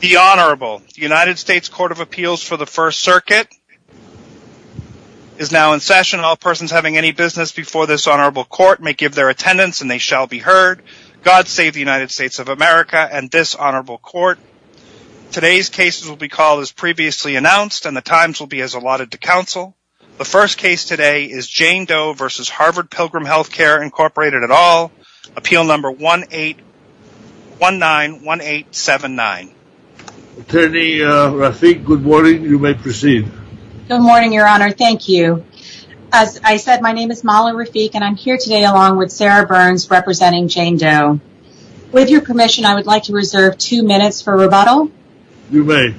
The Honorable United States Court of Appeals for the First Circuit is now in session. All persons having any business before this Honorable Court may give their attendance and they shall be heard. God save the United States of America and this Honorable Court. Today's cases will be called as previously announced and the times will be as allotted to counsel. The first case today is Jane Doe v. Harvard Pilgrim Health Care, Incorporated et al. Appeal number 18191879. Attorney Rafik, good morning. You may proceed. Good morning, Your Honor. Thank you. As I said, my name is Molly Rafik and I'm here today along with Sarah Burns representing Jane Doe. With your permission, I would like to reserve two minutes for rebuttal. You may.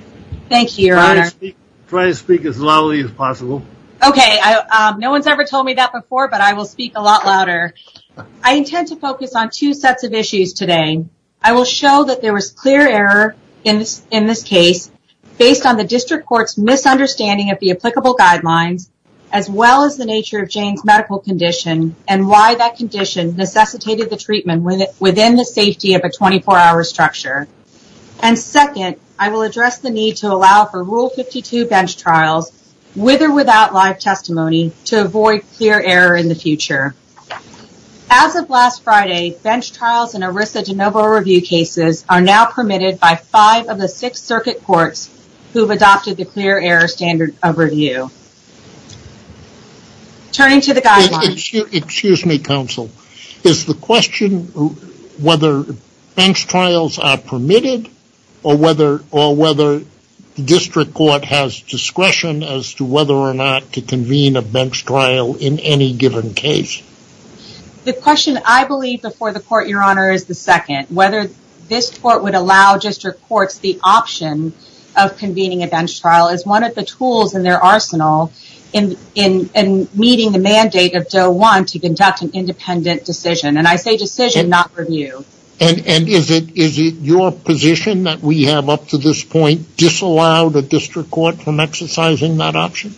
Thank you, Your Honor. Try to speak as loudly as possible. I intend to focus on two sets of issues today. I will show that there was clear error in this case based on the District Court's misunderstanding of the applicable guidelines as well as the nature of Jane's medical condition and why that condition necessitated the treatment within the safety of a 24-hour structure. And second, I will address the need to allow for Rule 52 bench trials with or without live testimony to avoid clear error in the future. As of last Friday, bench trials in ERISA de novo review cases are now permitted by five of the six circuit courts who have adopted the clear error standard of review. Turning to the guidelines. Excuse me, Counsel. Is the question whether bench trials are permitted or whether the District Court has discretion as to whether or not to convene a bench trial in any given case? The question, I believe, before the Court, Your Honor, is the second. Whether this Court would allow District Courts the option of convening a bench trial is one of the tools in their arsenal in meeting the mandate of Doe 1 to conduct an independent decision. And I say decision, not review. And is it your position that we have up to this point disallowed a District Court from exercising that option?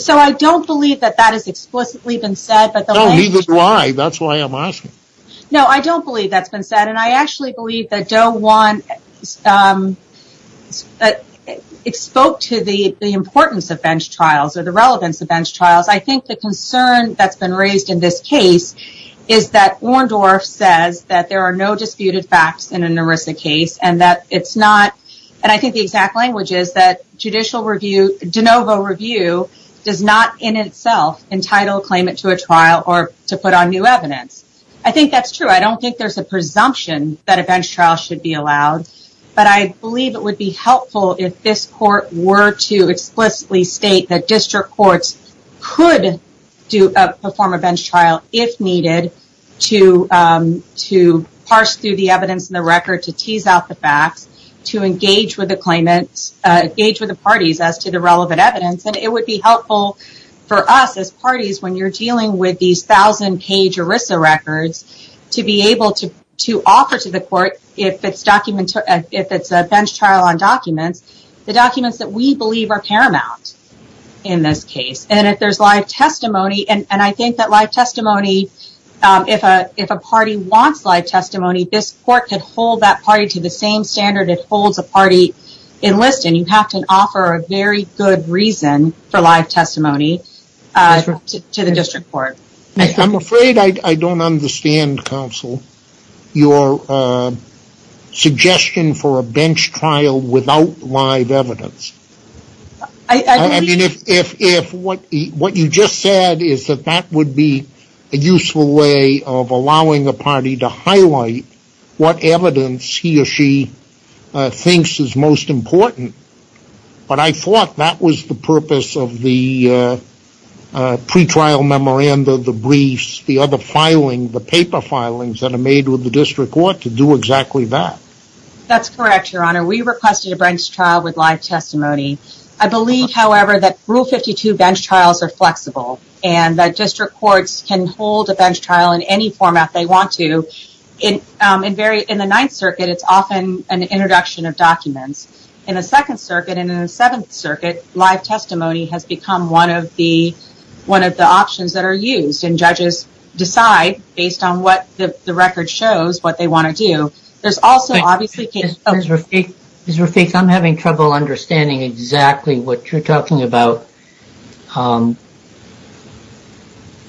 So I don't believe that that has explicitly been said. No, neither do I. That's why I'm asking. No, I don't believe that's been said. And I actually believe that Doe 1 spoke to the importance of bench trials or the relevance of bench trials. I think the concern that's been raised in this case is that Orndorff says that there are no disputed facts in an ERISA case and that it's not. And I think the exact language is that judicial review, de novo review, does not in itself entitle, claim it to a trial or to put on new evidence. I think that's true. I don't think there's a presumption that a bench trial should be allowed. But I believe it would be helpful if this Court were to explicitly state that District Courts could perform a bench trial if needed to parse through the evidence in the record, to tease out the facts, to engage with the parties as to the relevant evidence. And it would be helpful for us as parties, when you're dealing with these 1,000-page ERISA records, to be able to offer to the Court, if it's a bench trial on documents, the documents that we believe are paramount in this case. And if there's live testimony, and I think that live testimony, if a party wants live testimony, this Court could hold that party to the same standard it holds a party enlist in. You have to offer a very good reason for live testimony to the District Court. I'm afraid I don't understand, Counsel, your suggestion for a bench trial without live evidence. What you just said is that that would be a useful way of allowing a party to highlight what evidence he or she thinks is most important. But I thought that was the purpose of the pretrial memoranda, the briefs, the other filing, the paper filings that are made with the District Court, to do exactly that. That's correct, Your Honor. We requested a bench trial with live testimony. I believe, however, that Rule 52 bench trials are flexible, and that District Courts can hold a bench trial in any format they want to. In the Ninth Circuit, it's often an introduction of documents. In the Second Circuit and in the Seventh Circuit, live testimony has become one of the options that are used. And judges decide, based on what the record shows, what they want to do. Ms. Rafik, I'm having trouble understanding exactly what you're talking about.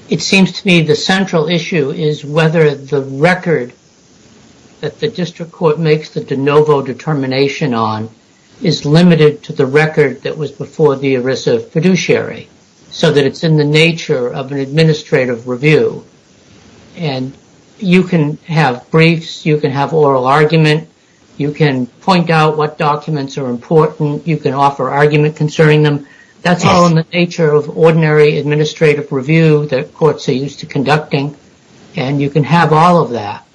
It seems to me the central issue is whether the record that the District Court makes the de novo determination on is limited to the record that was before the ERISA fiduciary, so that it's in the nature of an administrative review. And you can have briefs, you can have oral argument, you can point out what documents are important, you can offer argument concerning them. That's all in the nature of ordinary administrative review that courts are used to conducting, and you can have all of that.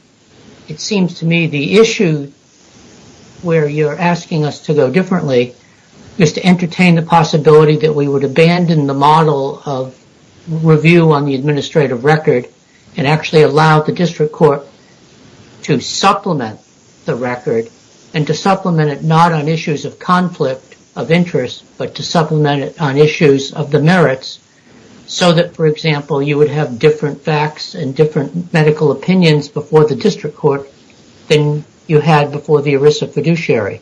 It seems to me the issue where you're asking us to go differently is to entertain the possibility that we would abandon the model of review on the administrative record and actually allow the District Court to supplement the record, and to supplement it not on issues of conflict of interest, but to supplement it on issues of the merits, so that, for example, you would have different facts and different medical opinions before the District Court than you had before the ERISA fiduciary.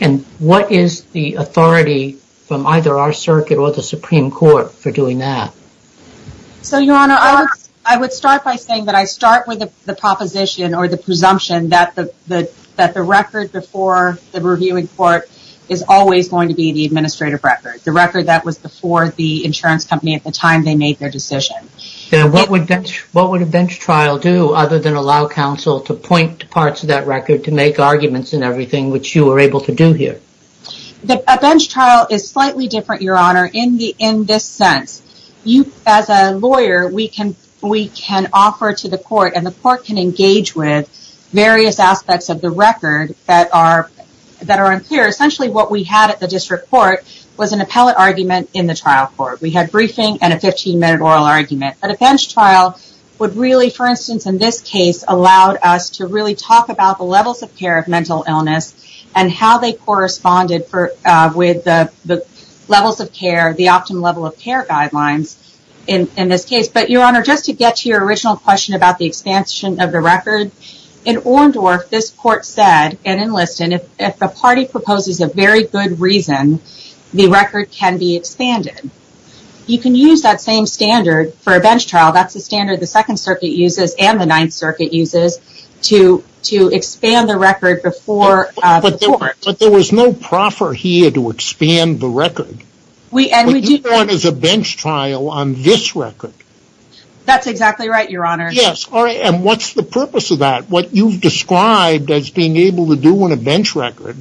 And what is the authority from either our circuit or the Supreme Court for doing that? So, Your Honor, I would start by saying that I start with the proposition or the presumption that the record before the reviewing court is always going to be the administrative record, the record that was before the insurance company at the time they made their decision. Now, what would a bench trial do other than allow counsel to point to parts of that record to make arguments and everything which you were able to do here? A bench trial is slightly different, Your Honor, in this sense. As a lawyer, we can offer to the court, and the court can engage with various aspects of the record that are unclear. Essentially, what we had at the District Court was an appellate argument in the trial court. We had briefing and a 15-minute oral argument, but a bench trial would really, for instance in this case, allowed us to really talk about the levels of care of mental illness and how they corresponded with the levels of care, the optimum level of care guidelines in this case. But, Your Honor, just to get to your original question about the expansion of the record, in Orndorff, this court said, and in Liston, if the party proposes a very good reason, the record can be expanded. You can use that same standard for a bench trial. That's the standard the Second Circuit uses and the Ninth Circuit uses to expand the record before the court. But there was no proffer here to expand the record. We do that as a bench trial on this record. That's exactly right, Your Honor. Yes, and what's the purpose of that? What you've described as being able to do in a bench record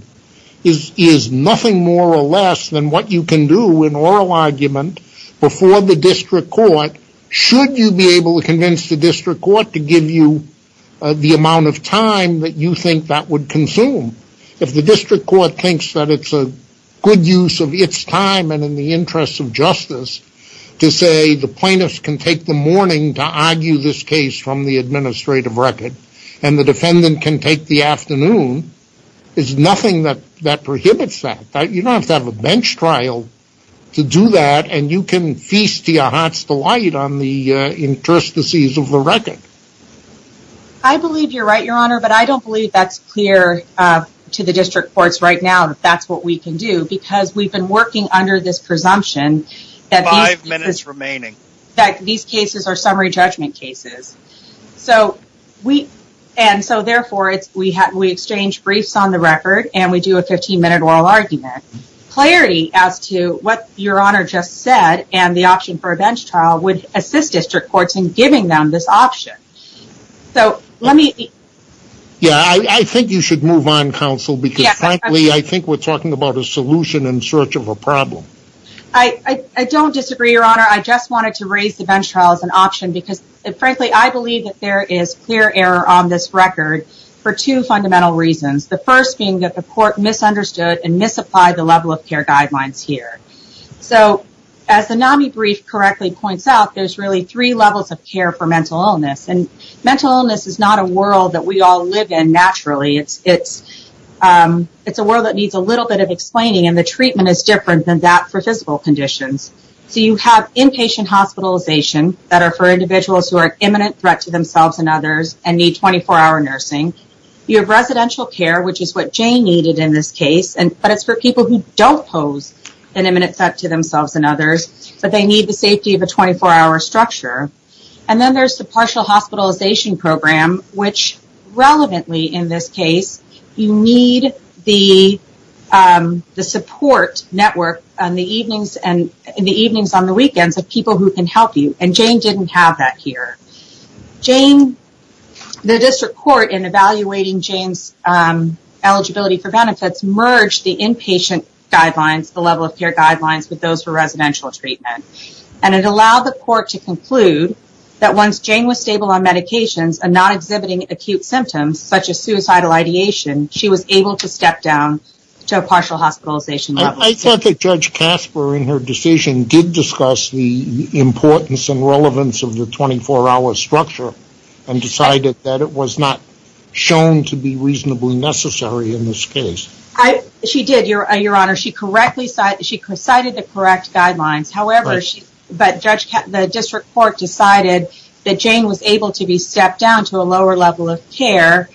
is nothing more or less than what you can do in oral argument before the District Court, should you be able to convince the District Court to give you the amount of time that you think that would consume. If the District Court thinks that it's a good use of its time and in the interest of justice to say the plaintiffs can take the morning to argue this case from the administrative record, and the defendant can take the afternoon, there's nothing that prohibits that. You don't have to have a bench trial to do that, and you can feast your heart's delight on the interstices of the record. I believe you're right, Your Honor, but I don't believe that's clear to the District Courts right now that that's what we can do, because we've been working under this presumption that these cases are summary judgment cases. Therefore, we exchange briefs on the record, and we do a 15-minute oral argument. Clarity as to what Your Honor just said and the option for a bench trial would assist District Courts in giving them this option. I think you should move on, Counsel, because frankly, I think we're talking about a solution in search of a problem. I don't disagree, Your Honor. I just wanted to raise the bench trial as an option, because frankly, I believe that there is clear error on this record for two fundamental reasons. The first being that the court misunderstood and misapplied the level of care guidelines here. As the NAMI brief correctly points out, there's really three levels of care for mental illness. Mental illness is not a world that we all live in naturally. It's a world that needs a little bit of explaining, and the treatment is different than that for physical conditions. You have inpatient hospitalization that are for individuals who are an imminent threat to themselves and others and need 24-hour nursing. You have residential care, which is what Jane needed in this case, but it's for people who don't pose an imminent threat to themselves and others, but they need the safety of a 24-hour structure. Then there's the partial hospitalization program, which, relevantly in this case, you need the support network in the evenings and the weekends of people who can help you, and Jane didn't have that here. The district court, in evaluating Jane's eligibility for benefits, merged the inpatient guidelines, the level of care guidelines, with those for residential treatment. It allowed the court to conclude that once Jane was stable on medications and not exhibiting acute symptoms, such as suicidal ideation, she was able to step down to a partial hospitalization level. I thought that Judge Casper, in her decision, did discuss the importance and relevance of the 24-hour structure and decided that it was not shown to be reasonably necessary in this case. She did, Your Honor. She correctly cited the correct guidelines, but the district court decided that Jane was able to be stepped down to a lower level of care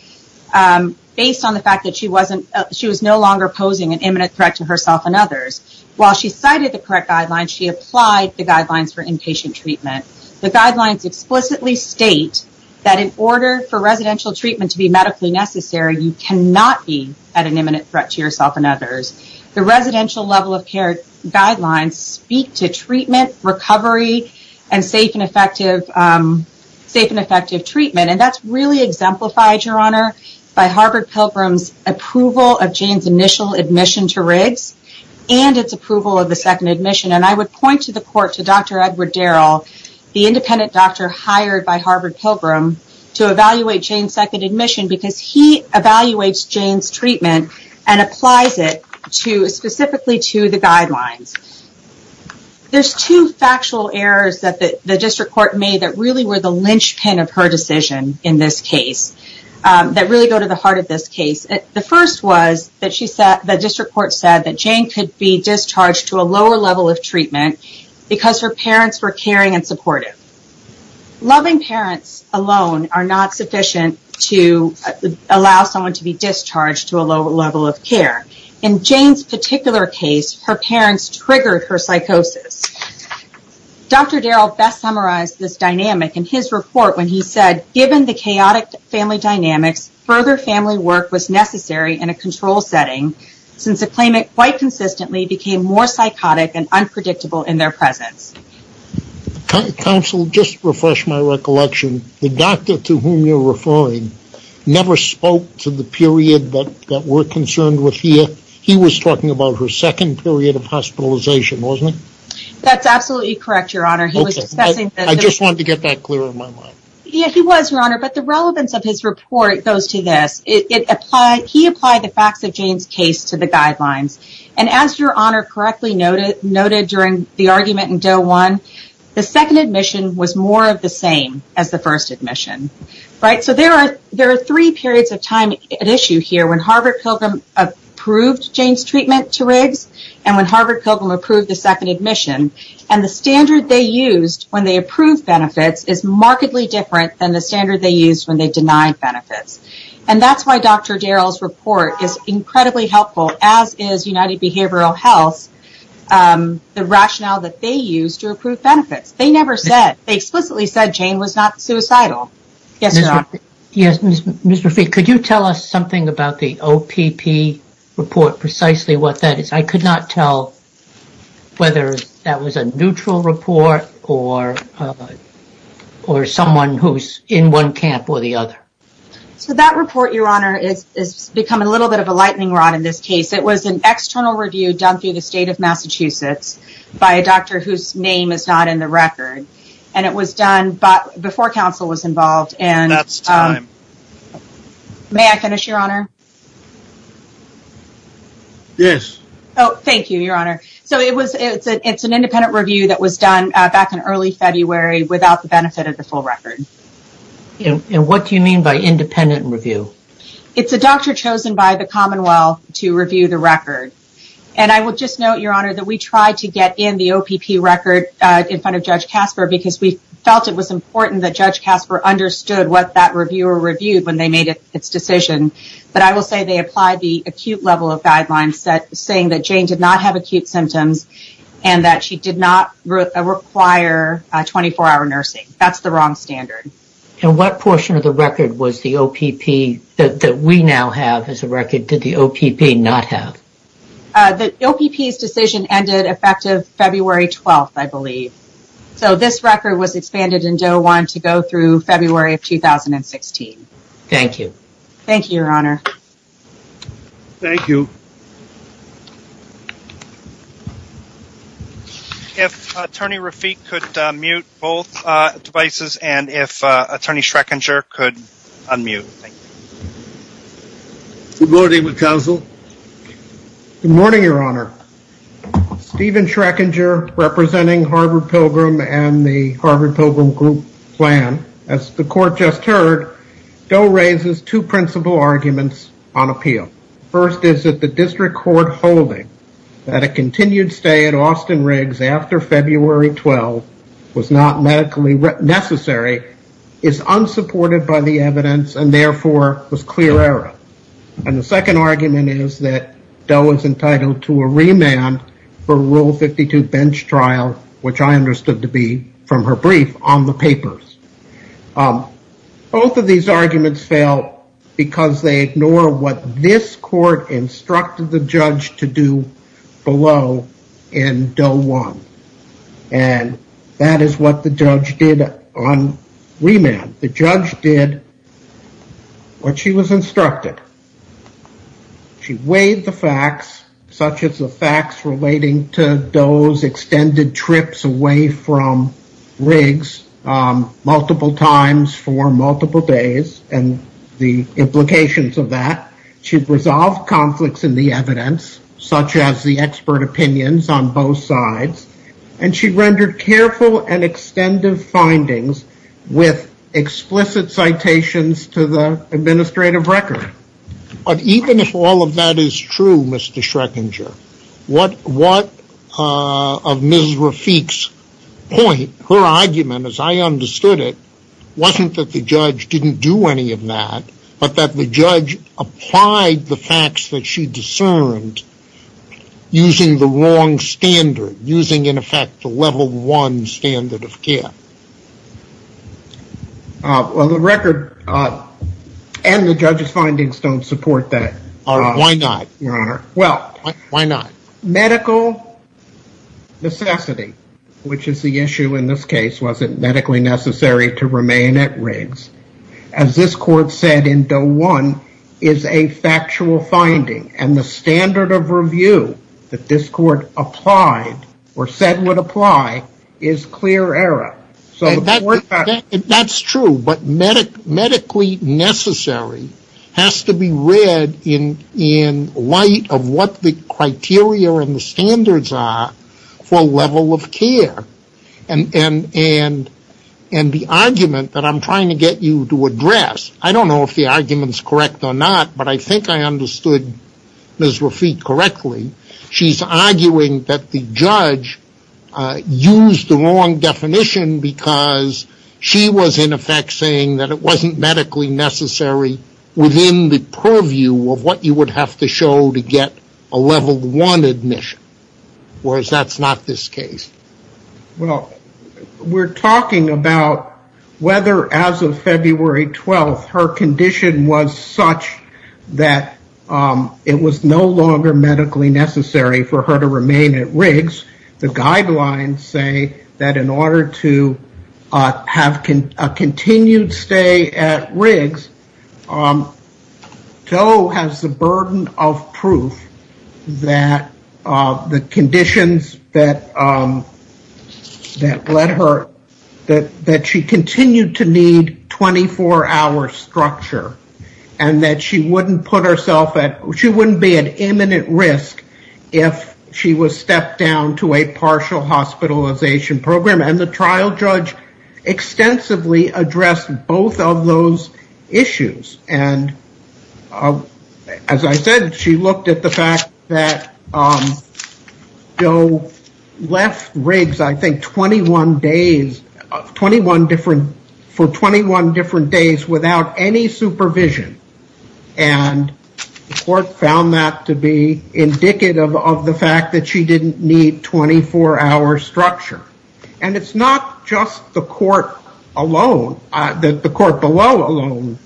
based on the fact that she was no longer posing an imminent threat to herself and others. While she cited the correct guidelines, she applied the guidelines for inpatient treatment. The guidelines explicitly state that in order for residential treatment to be medically necessary, you cannot be at an imminent threat to yourself and others. The residential level of care guidelines speak to treatment, recovery, and safe and effective treatment, and that's really exemplified, Your Honor, by Harvard Pilgrim's approval of Jane's initial admission to Riggs and its approval of the second admission. I would point to the court, to Dr. Edward Darrell, the independent doctor hired by Harvard Pilgrim, to evaluate Jane's second admission because he evaluates Jane's treatment and applies it specifically to the guidelines. There's two factual errors that the district court made that really were the linchpin of her decision in this case, that really go to the heart of this case. The first was that the district court said that Jane could be discharged to a lower level of treatment because her parents were caring and supportive. Loving parents alone are not sufficient to allow someone to be discharged to a lower level of care. In Jane's particular case, her parents triggered her psychosis. Dr. Darrell best summarized this dynamic in his report when he said, given the chaotic family dynamics, further family work was necessary in a control setting since the claimant quite consistently became more psychotic and unpredictable in their presence. Counsel, just to refresh my recollection, the doctor to whom you're referring never spoke to the period that we're concerned with here. He was talking about her second period of hospitalization, wasn't he? That's absolutely correct, Your Honor. I just wanted to get that clear in my mind. Yeah, he was, Your Honor, but the relevance of his report goes to this. He applied the facts of Jane's case to the guidelines. And as Your Honor correctly noted during the argument in Doe 1, the second admission was more of the same as the first admission. So there are three periods of time at issue here, when Harvard Pilgrim approved Jane's treatment to Riggs and when Harvard Pilgrim approved the second admission. And the standard they used when they approved benefits is markedly different than the standard they used when they denied benefits. And that's why Dr. Darrell's report is incredibly helpful, as is United Behavioral Health, the rationale that they used to approve benefits. They never said. They explicitly said Jane was not suicidal. Yes, Your Honor. Yes, Ms. Rafiq, could you tell us something about the OPP report, precisely what that is? I could not tell whether that was a neutral report or someone who's in one camp or the other. So that report, Your Honor, has become a little bit of a lightning rod in this case. It was an external review done through the state of Massachusetts by a doctor whose name is not in the record. And it was done before counsel was involved. May I finish, Your Honor? Yes. Oh, thank you, Your Honor. So it's an independent review that was done back in early February without the benefit of the full record. And what do you mean by independent review? It's a doctor chosen by the Commonwealth to review the record. And I would just note, Your Honor, that we tried to get in the OPP record in front of Judge Casper because we felt it was important that Judge Casper understood what that reviewer reviewed when they made its decision. But I will say they applied the acute level of guidelines saying that Jane did not have acute symptoms and that she did not require 24-hour nursing. That's the wrong standard. And what portion of the record was the OPP that we now have as a record did the OPP not have? The OPP's decision ended effective February 12th, I believe. So this record was expanded in Doe 1 to go through February of 2016. Thank you. Thank you, Your Honor. Thank you. If Attorney Rafik could mute both devices and if Attorney Schreckinger could unmute. Good morning, counsel. Good morning, Your Honor. Stephen Schreckinger representing Harvard Pilgrim and the Harvard Pilgrim group plan. As the court just heard, Doe raises two principal arguments on appeal. First is that the district court holding that a continued stay at Austin Riggs after February 12th was not medically necessary is unsupported by the evidence and therefore was clear error. And the second argument is that Doe is entitled to a remand for Rule 52 bench trial, which I understood to be from her brief on the papers. Both of these arguments fail because they ignore what this court instructed the judge to do below in Doe 1. And that is what the judge did on remand. The judge did what she was instructed. She weighed the facts, such as the facts relating to Doe's extended trips away from Riggs multiple times for multiple days and the implications of that. She resolved conflicts in the evidence, such as the expert opinions on both sides, and she rendered careful and extended findings with explicit citations to the administrative record. But even if all of that is true, Mr. Schreckinger, what of Ms. Rafik's point, her argument as I understood it, wasn't that the judge didn't do any of that, but that the judge applied the facts that she discerned using the wrong standard, using, in effect, the Level 1 standard of care? Well, the record and the judge's findings don't support that. Why not, Your Honor? Well, medical necessity, which is the issue in this case, wasn't medically necessary to remain at Riggs. As this court said in Doe 1, is a factual finding. And the standard of review that this court applied, or said would apply, is clear error. That's true, but medically necessary has to be read in light of what the criteria and the standards are for level of care. And the argument that I'm trying to get you to address, I don't know if the argument's correct or not, but I think I understood Ms. Rafik correctly. She's arguing that the judge used the wrong definition because she was, in effect, saying that it wasn't medically necessary within the purview of what you would have to show to get a Level 1 admission. Whereas that's not this case. Well, we're talking about whether, as of February 12th, her condition was such that it was no longer medically necessary for her to remain at Riggs. The guidelines say that in order to have a continued stay at Riggs, Doe has the burden of proof that the conditions that led her, that she continued to need 24-hour structure. And that she wouldn't put herself at, she wouldn't be at imminent risk if she was stepped down to a partial hospitalization program. And the trial judge extensively addressed both of those issues. And as I said, she looked at the fact that Doe left Riggs, I think, for 21 different days without any supervision. And the court found that to be indicative of the fact that she didn't need 24-hour structure. And it's not just the court alone, the court below alone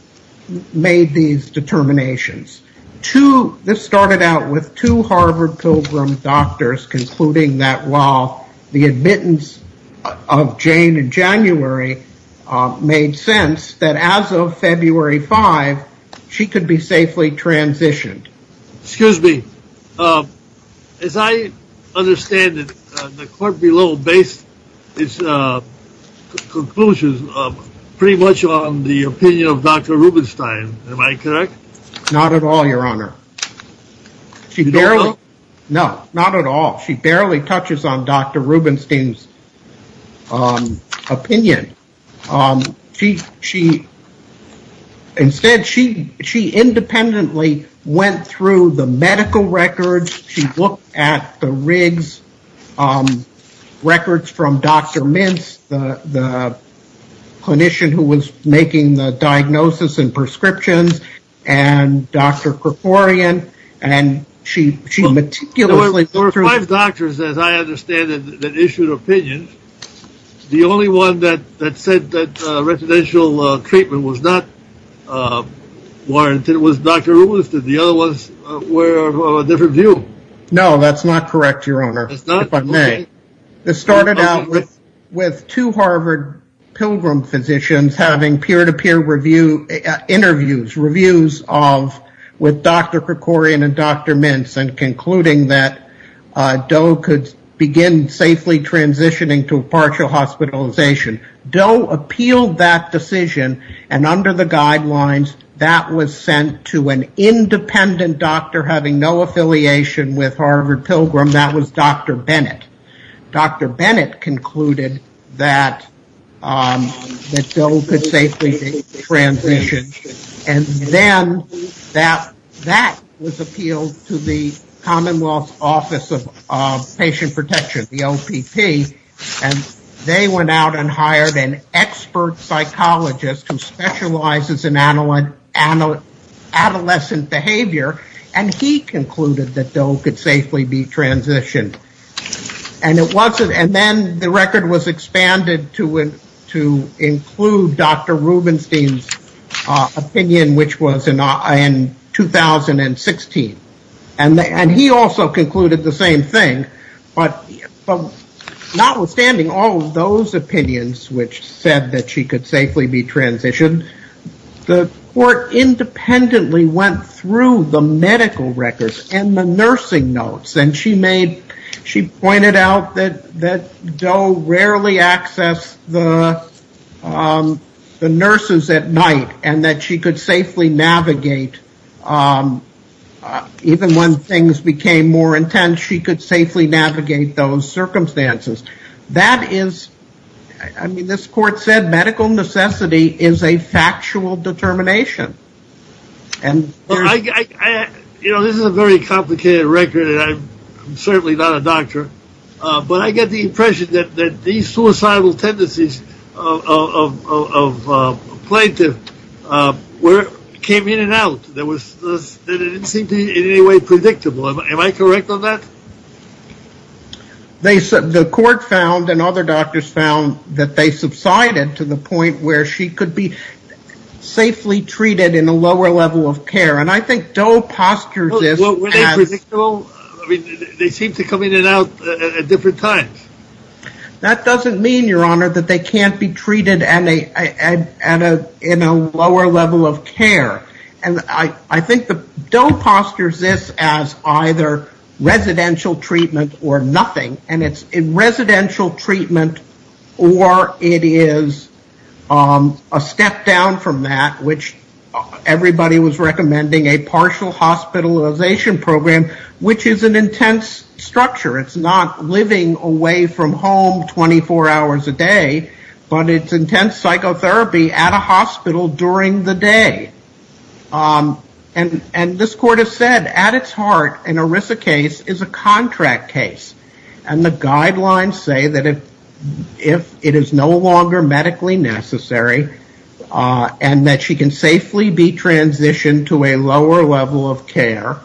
made these determinations. This started out with two Harvard Pilgrim doctors concluding that while the admittance of Jane in January made sense, that as of February 5, she could be safely transitioned. Excuse me. As I understand it, the court below based its conclusions pretty much on the opinion of Dr. Rubenstein. Am I correct? Not at all, your honor. No, not at all. She barely touches on Dr. Rubenstein's opinion. Instead, she independently went through the medical records. She looked at the Riggs records from Dr. Mintz, the clinician who was making the diagnosis and prescriptions, and Dr. Kerkorian. There were five doctors, as I understand it, that issued opinions. The only one that said that residential treatment was not warranted was Dr. Rubenstein. The other ones were of a different view. No, that's not correct, your honor, if I may. This started out with two Harvard Pilgrim physicians having peer-to-peer interviews with Dr. Kerkorian and Dr. Mintz and concluding that Doe could begin safely transitioning to partial hospitalization. Doe appealed that decision, and under the guidelines, that was sent to an independent doctor having no affiliation with Harvard Pilgrim. That was Dr. Bennett. Dr. Bennett concluded that Doe could safely transition, and then that was appealed to the Commonwealth Office of Patient Protection, the OPP, and they went out and hired an expert psychologist who specializes in adolescent behavior, and he concluded that Doe could safely be transitioned. And then the record was expanded to include Dr. Rubenstein's opinion, which was in 2016. And he also concluded the same thing, but notwithstanding all of those opinions which said that she could safely be transitioned, the court independently went through the medical records and the nursing notes, and she pointed out that Doe rarely accessed the nurses at night and that she could safely navigate, even when things became more intense, she could safely navigate those circumstances. That is, I mean, this court said medical necessity is a factual determination. You know, this is a very complicated record, and I'm certainly not a doctor, but I get the impression that these suicidal tendencies of a plaintiff came in and out, that it didn't seem in any way predictable. Am I correct on that? The court found and other doctors found that they subsided to the point where she could be safely treated in a lower level of care, and I think Doe postures this as... Well, were they predictable? I mean, they seemed to come in and out at different times. That doesn't mean, Your Honor, that they can't be treated in a lower level of care. And I think that Doe postures this as either residential treatment or nothing, and it's residential treatment or it is a step down from that, which everybody was recommending, a partial hospitalization program, which is an intense structure. It's not living away from home 24 hours a day, but it's intense psychotherapy at a hospital during the day. And this court has said at its heart an ERISA case is a contract case, and the guidelines say that if it is no longer medically necessary and that she can safely be transitioned to a lower level of care,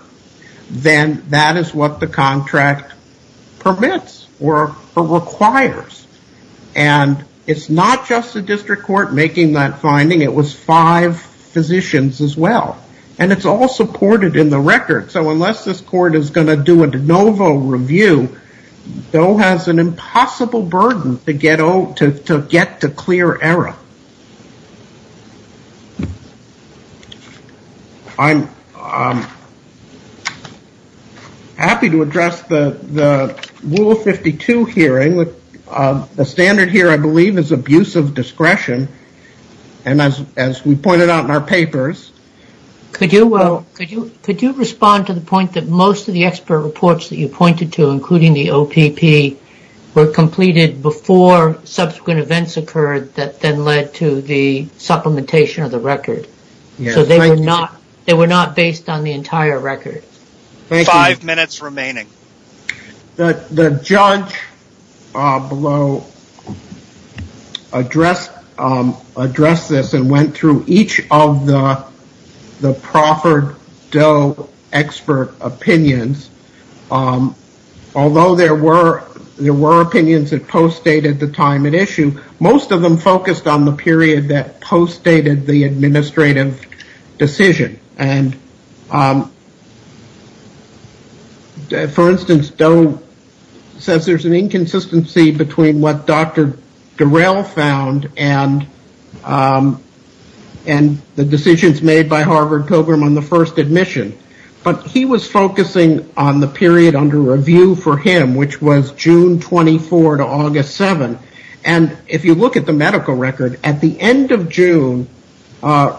then that is what the contract permits or requires. And it's not just the district court making that finding. It was five physicians as well. And it's all supported in the record, so unless this court is going to do a de novo review, Doe has an impossible burden to get to clear error. I'm happy to address the Rule 52 hearing. The standard here, I believe, is abusive discretion, and as we pointed out in our papers. Could you respond to the point that most of the expert reports that you pointed to, including the OPP, were completed before subsequent events occurred that then led to the supplementation of the record? So they were not based on the entire record. Five minutes remaining. The judge below addressed this and went through each of the Crawford Doe expert opinions. Although there were opinions that postdated the time at issue, most of them focused on the period that postdated the administrative decision. And, for instance, Doe says there's an inconsistency between what Dr. Durell found and the decisions made by Harvard Pilgrim on the first admission. But he was focusing on the period under review for him, which was June 24 to August 7. And if you look at the medical record, at the end of June,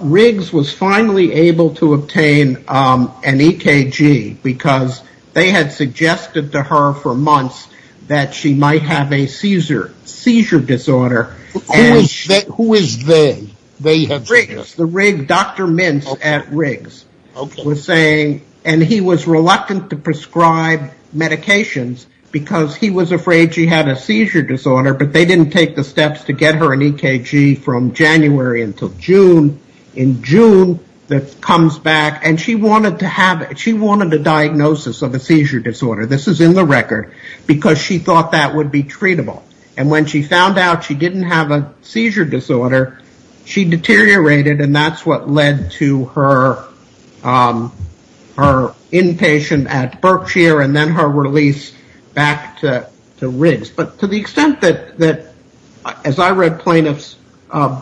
Riggs was finally able to obtain an EKG because they had suggested to her for months that she might have a seizure disorder. Who is they? Dr. Mintz at Riggs was saying, and he was reluctant to prescribe medications because he was afraid she had a seizure disorder, but they didn't take the steps to get her an EKG from January until June. In June, that comes back, and she wanted a diagnosis of a seizure disorder. This is in the record because she thought that would be treatable. And when she found out she didn't have a seizure disorder, she deteriorated, and that's what led to her inpatient at Berkshire and then her release back to Riggs. But to the extent that, as I read plaintiff's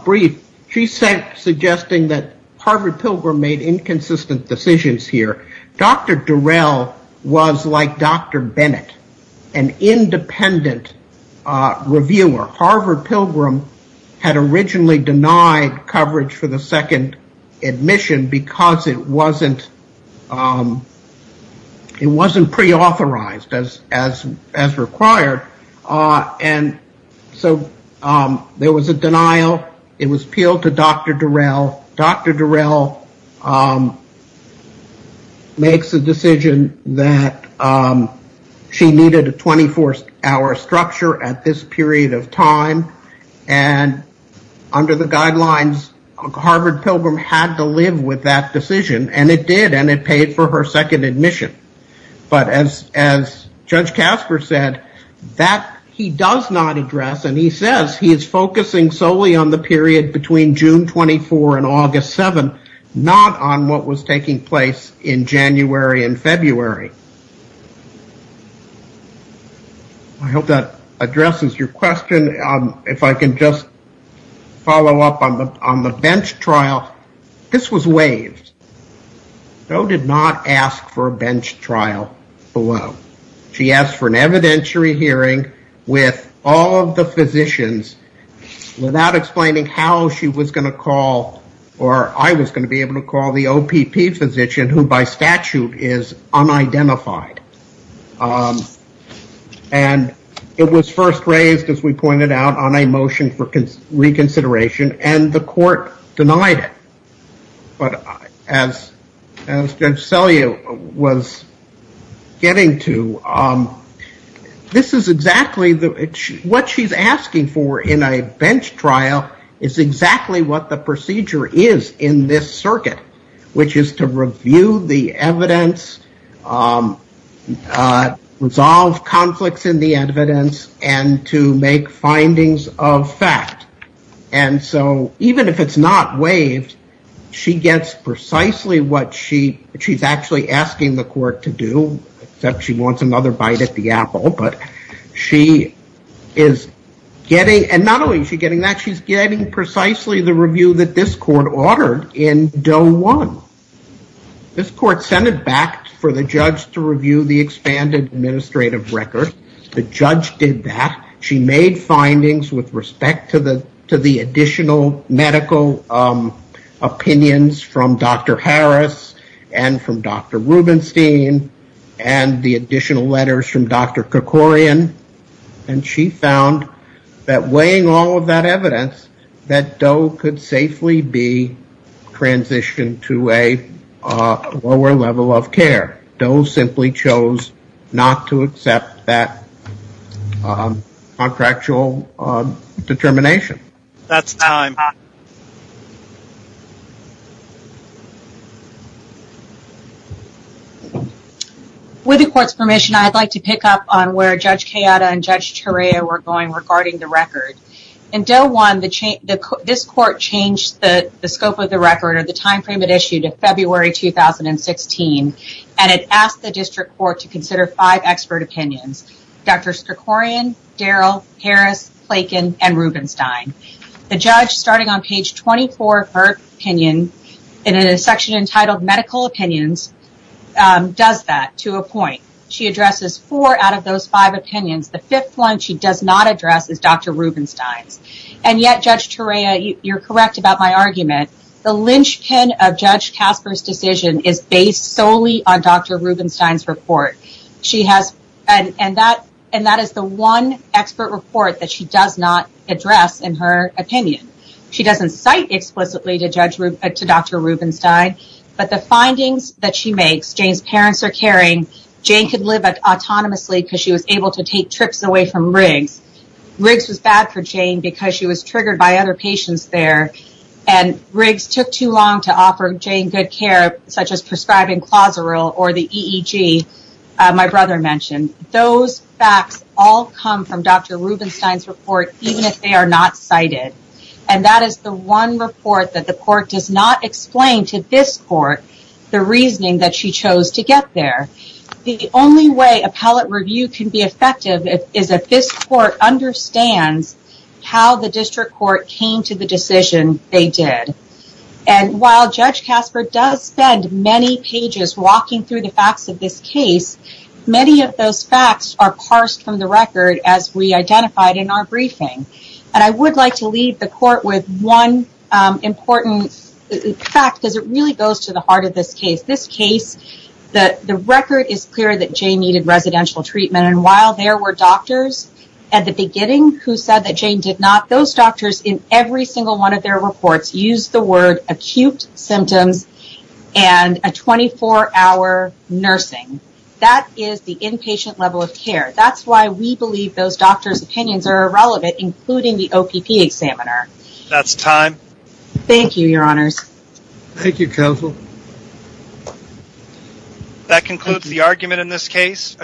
brief, she's suggesting that Harvard Pilgrim made inconsistent decisions here. Dr. Durell was like Dr. Bennett, an independent reviewer. Harvard Pilgrim had originally denied coverage for the second admission because it wasn't preauthorized as required. And so there was a denial. It was appealed to Dr. Durell. Dr. Durell makes a decision that she needed a 24-hour structure at this period of time, and under the guidelines, Harvard Pilgrim had to live with that decision, and it did, and it paid for her second admission. But as Judge Casper said, that he does not address, and he says he is focusing solely on the period between June 24 and August 7, not on what was taking place in January and February. I hope that addresses your question. If I can just follow up on the bench trial. This was waived. Doe did not ask for a bench trial below. She asked for an evidentiary hearing with all of the physicians without explaining how she was going to call, or I was going to be able to call the OPP physician, who by statute is unidentified. And it was first raised, as we pointed out, on a motion for reconsideration, and the court denied it. But as Judge Selye was getting to, this is exactly what she's asking for in a bench trial is exactly what the procedure is in this circuit, which is to review the evidence, resolve conflicts in the evidence, and to make findings of fact. And so even if it's not waived, she gets precisely what she's actually asking the court to do, except she wants another bite at the apple. But she is getting, and not only is she getting that, she's getting precisely the review that this court ordered in Doe 1. This court sent it back for the judge to review the expanded administrative record. The judge did that. She made findings with respect to the additional medical opinions from Dr. Harris and from Dr. Rubenstein and the additional letters from Dr. Kerkorian. And she found that weighing all of that evidence, that Doe could safely be transitioned to a lower level of care. But Doe simply chose not to accept that contractual determination. That's time. With the court's permission, I'd like to pick up on where Judge Chiata and Judge Torea were going regarding the record. In Doe 1, this court changed the scope of the record or the time frame it issued in February 2016, and it asked the district court to consider five expert opinions. Dr. Kerkorian, Daryl, Harris, Klaken, and Rubenstein. The judge, starting on page 24 of her opinion, in a section entitled Medical Opinions, does that to a point. She addresses four out of those five opinions. The fifth one she does not address is Dr. Rubenstein's. And yet, Judge Torea, you're correct about my argument. The linchpin of Judge Casper's decision is based solely on Dr. Rubenstein's report. And that is the one expert report that she does not address in her opinion. She doesn't cite explicitly to Dr. Rubenstein, but the findings that she makes, Jane's parents are caring, Jane could live autonomously because she was able to take trips away from Riggs. Riggs was bad for Jane because she was triggered by other patients there. And Riggs took too long to offer Jane good care, such as prescribing Clozeril or the EEG my brother mentioned. Those facts all come from Dr. Rubenstein's report, even if they are not cited. And that is the one report that the court does not explain to this court the reasoning that she chose to get there. The only way appellate review can be effective is if this court understands how the district court came to the decision they did. And while Judge Casper does spend many pages walking through the facts of this case, many of those facts are parsed from the record as we identified in our briefing. And I would like to leave the court with one important fact because it really goes to the heart of this case. This case, the record is clear that Jane needed residential treatment. And while there were doctors at the beginning who said that Jane did not, those doctors in every single one of their reports used the word acute symptoms and a 24-hour nursing. That is the inpatient level of care. That's why we believe those doctors' opinions are irrelevant, including the OPP examiner. That's time. Thank you, Your Honors. Thank you, Counsel. That concludes the argument in this case.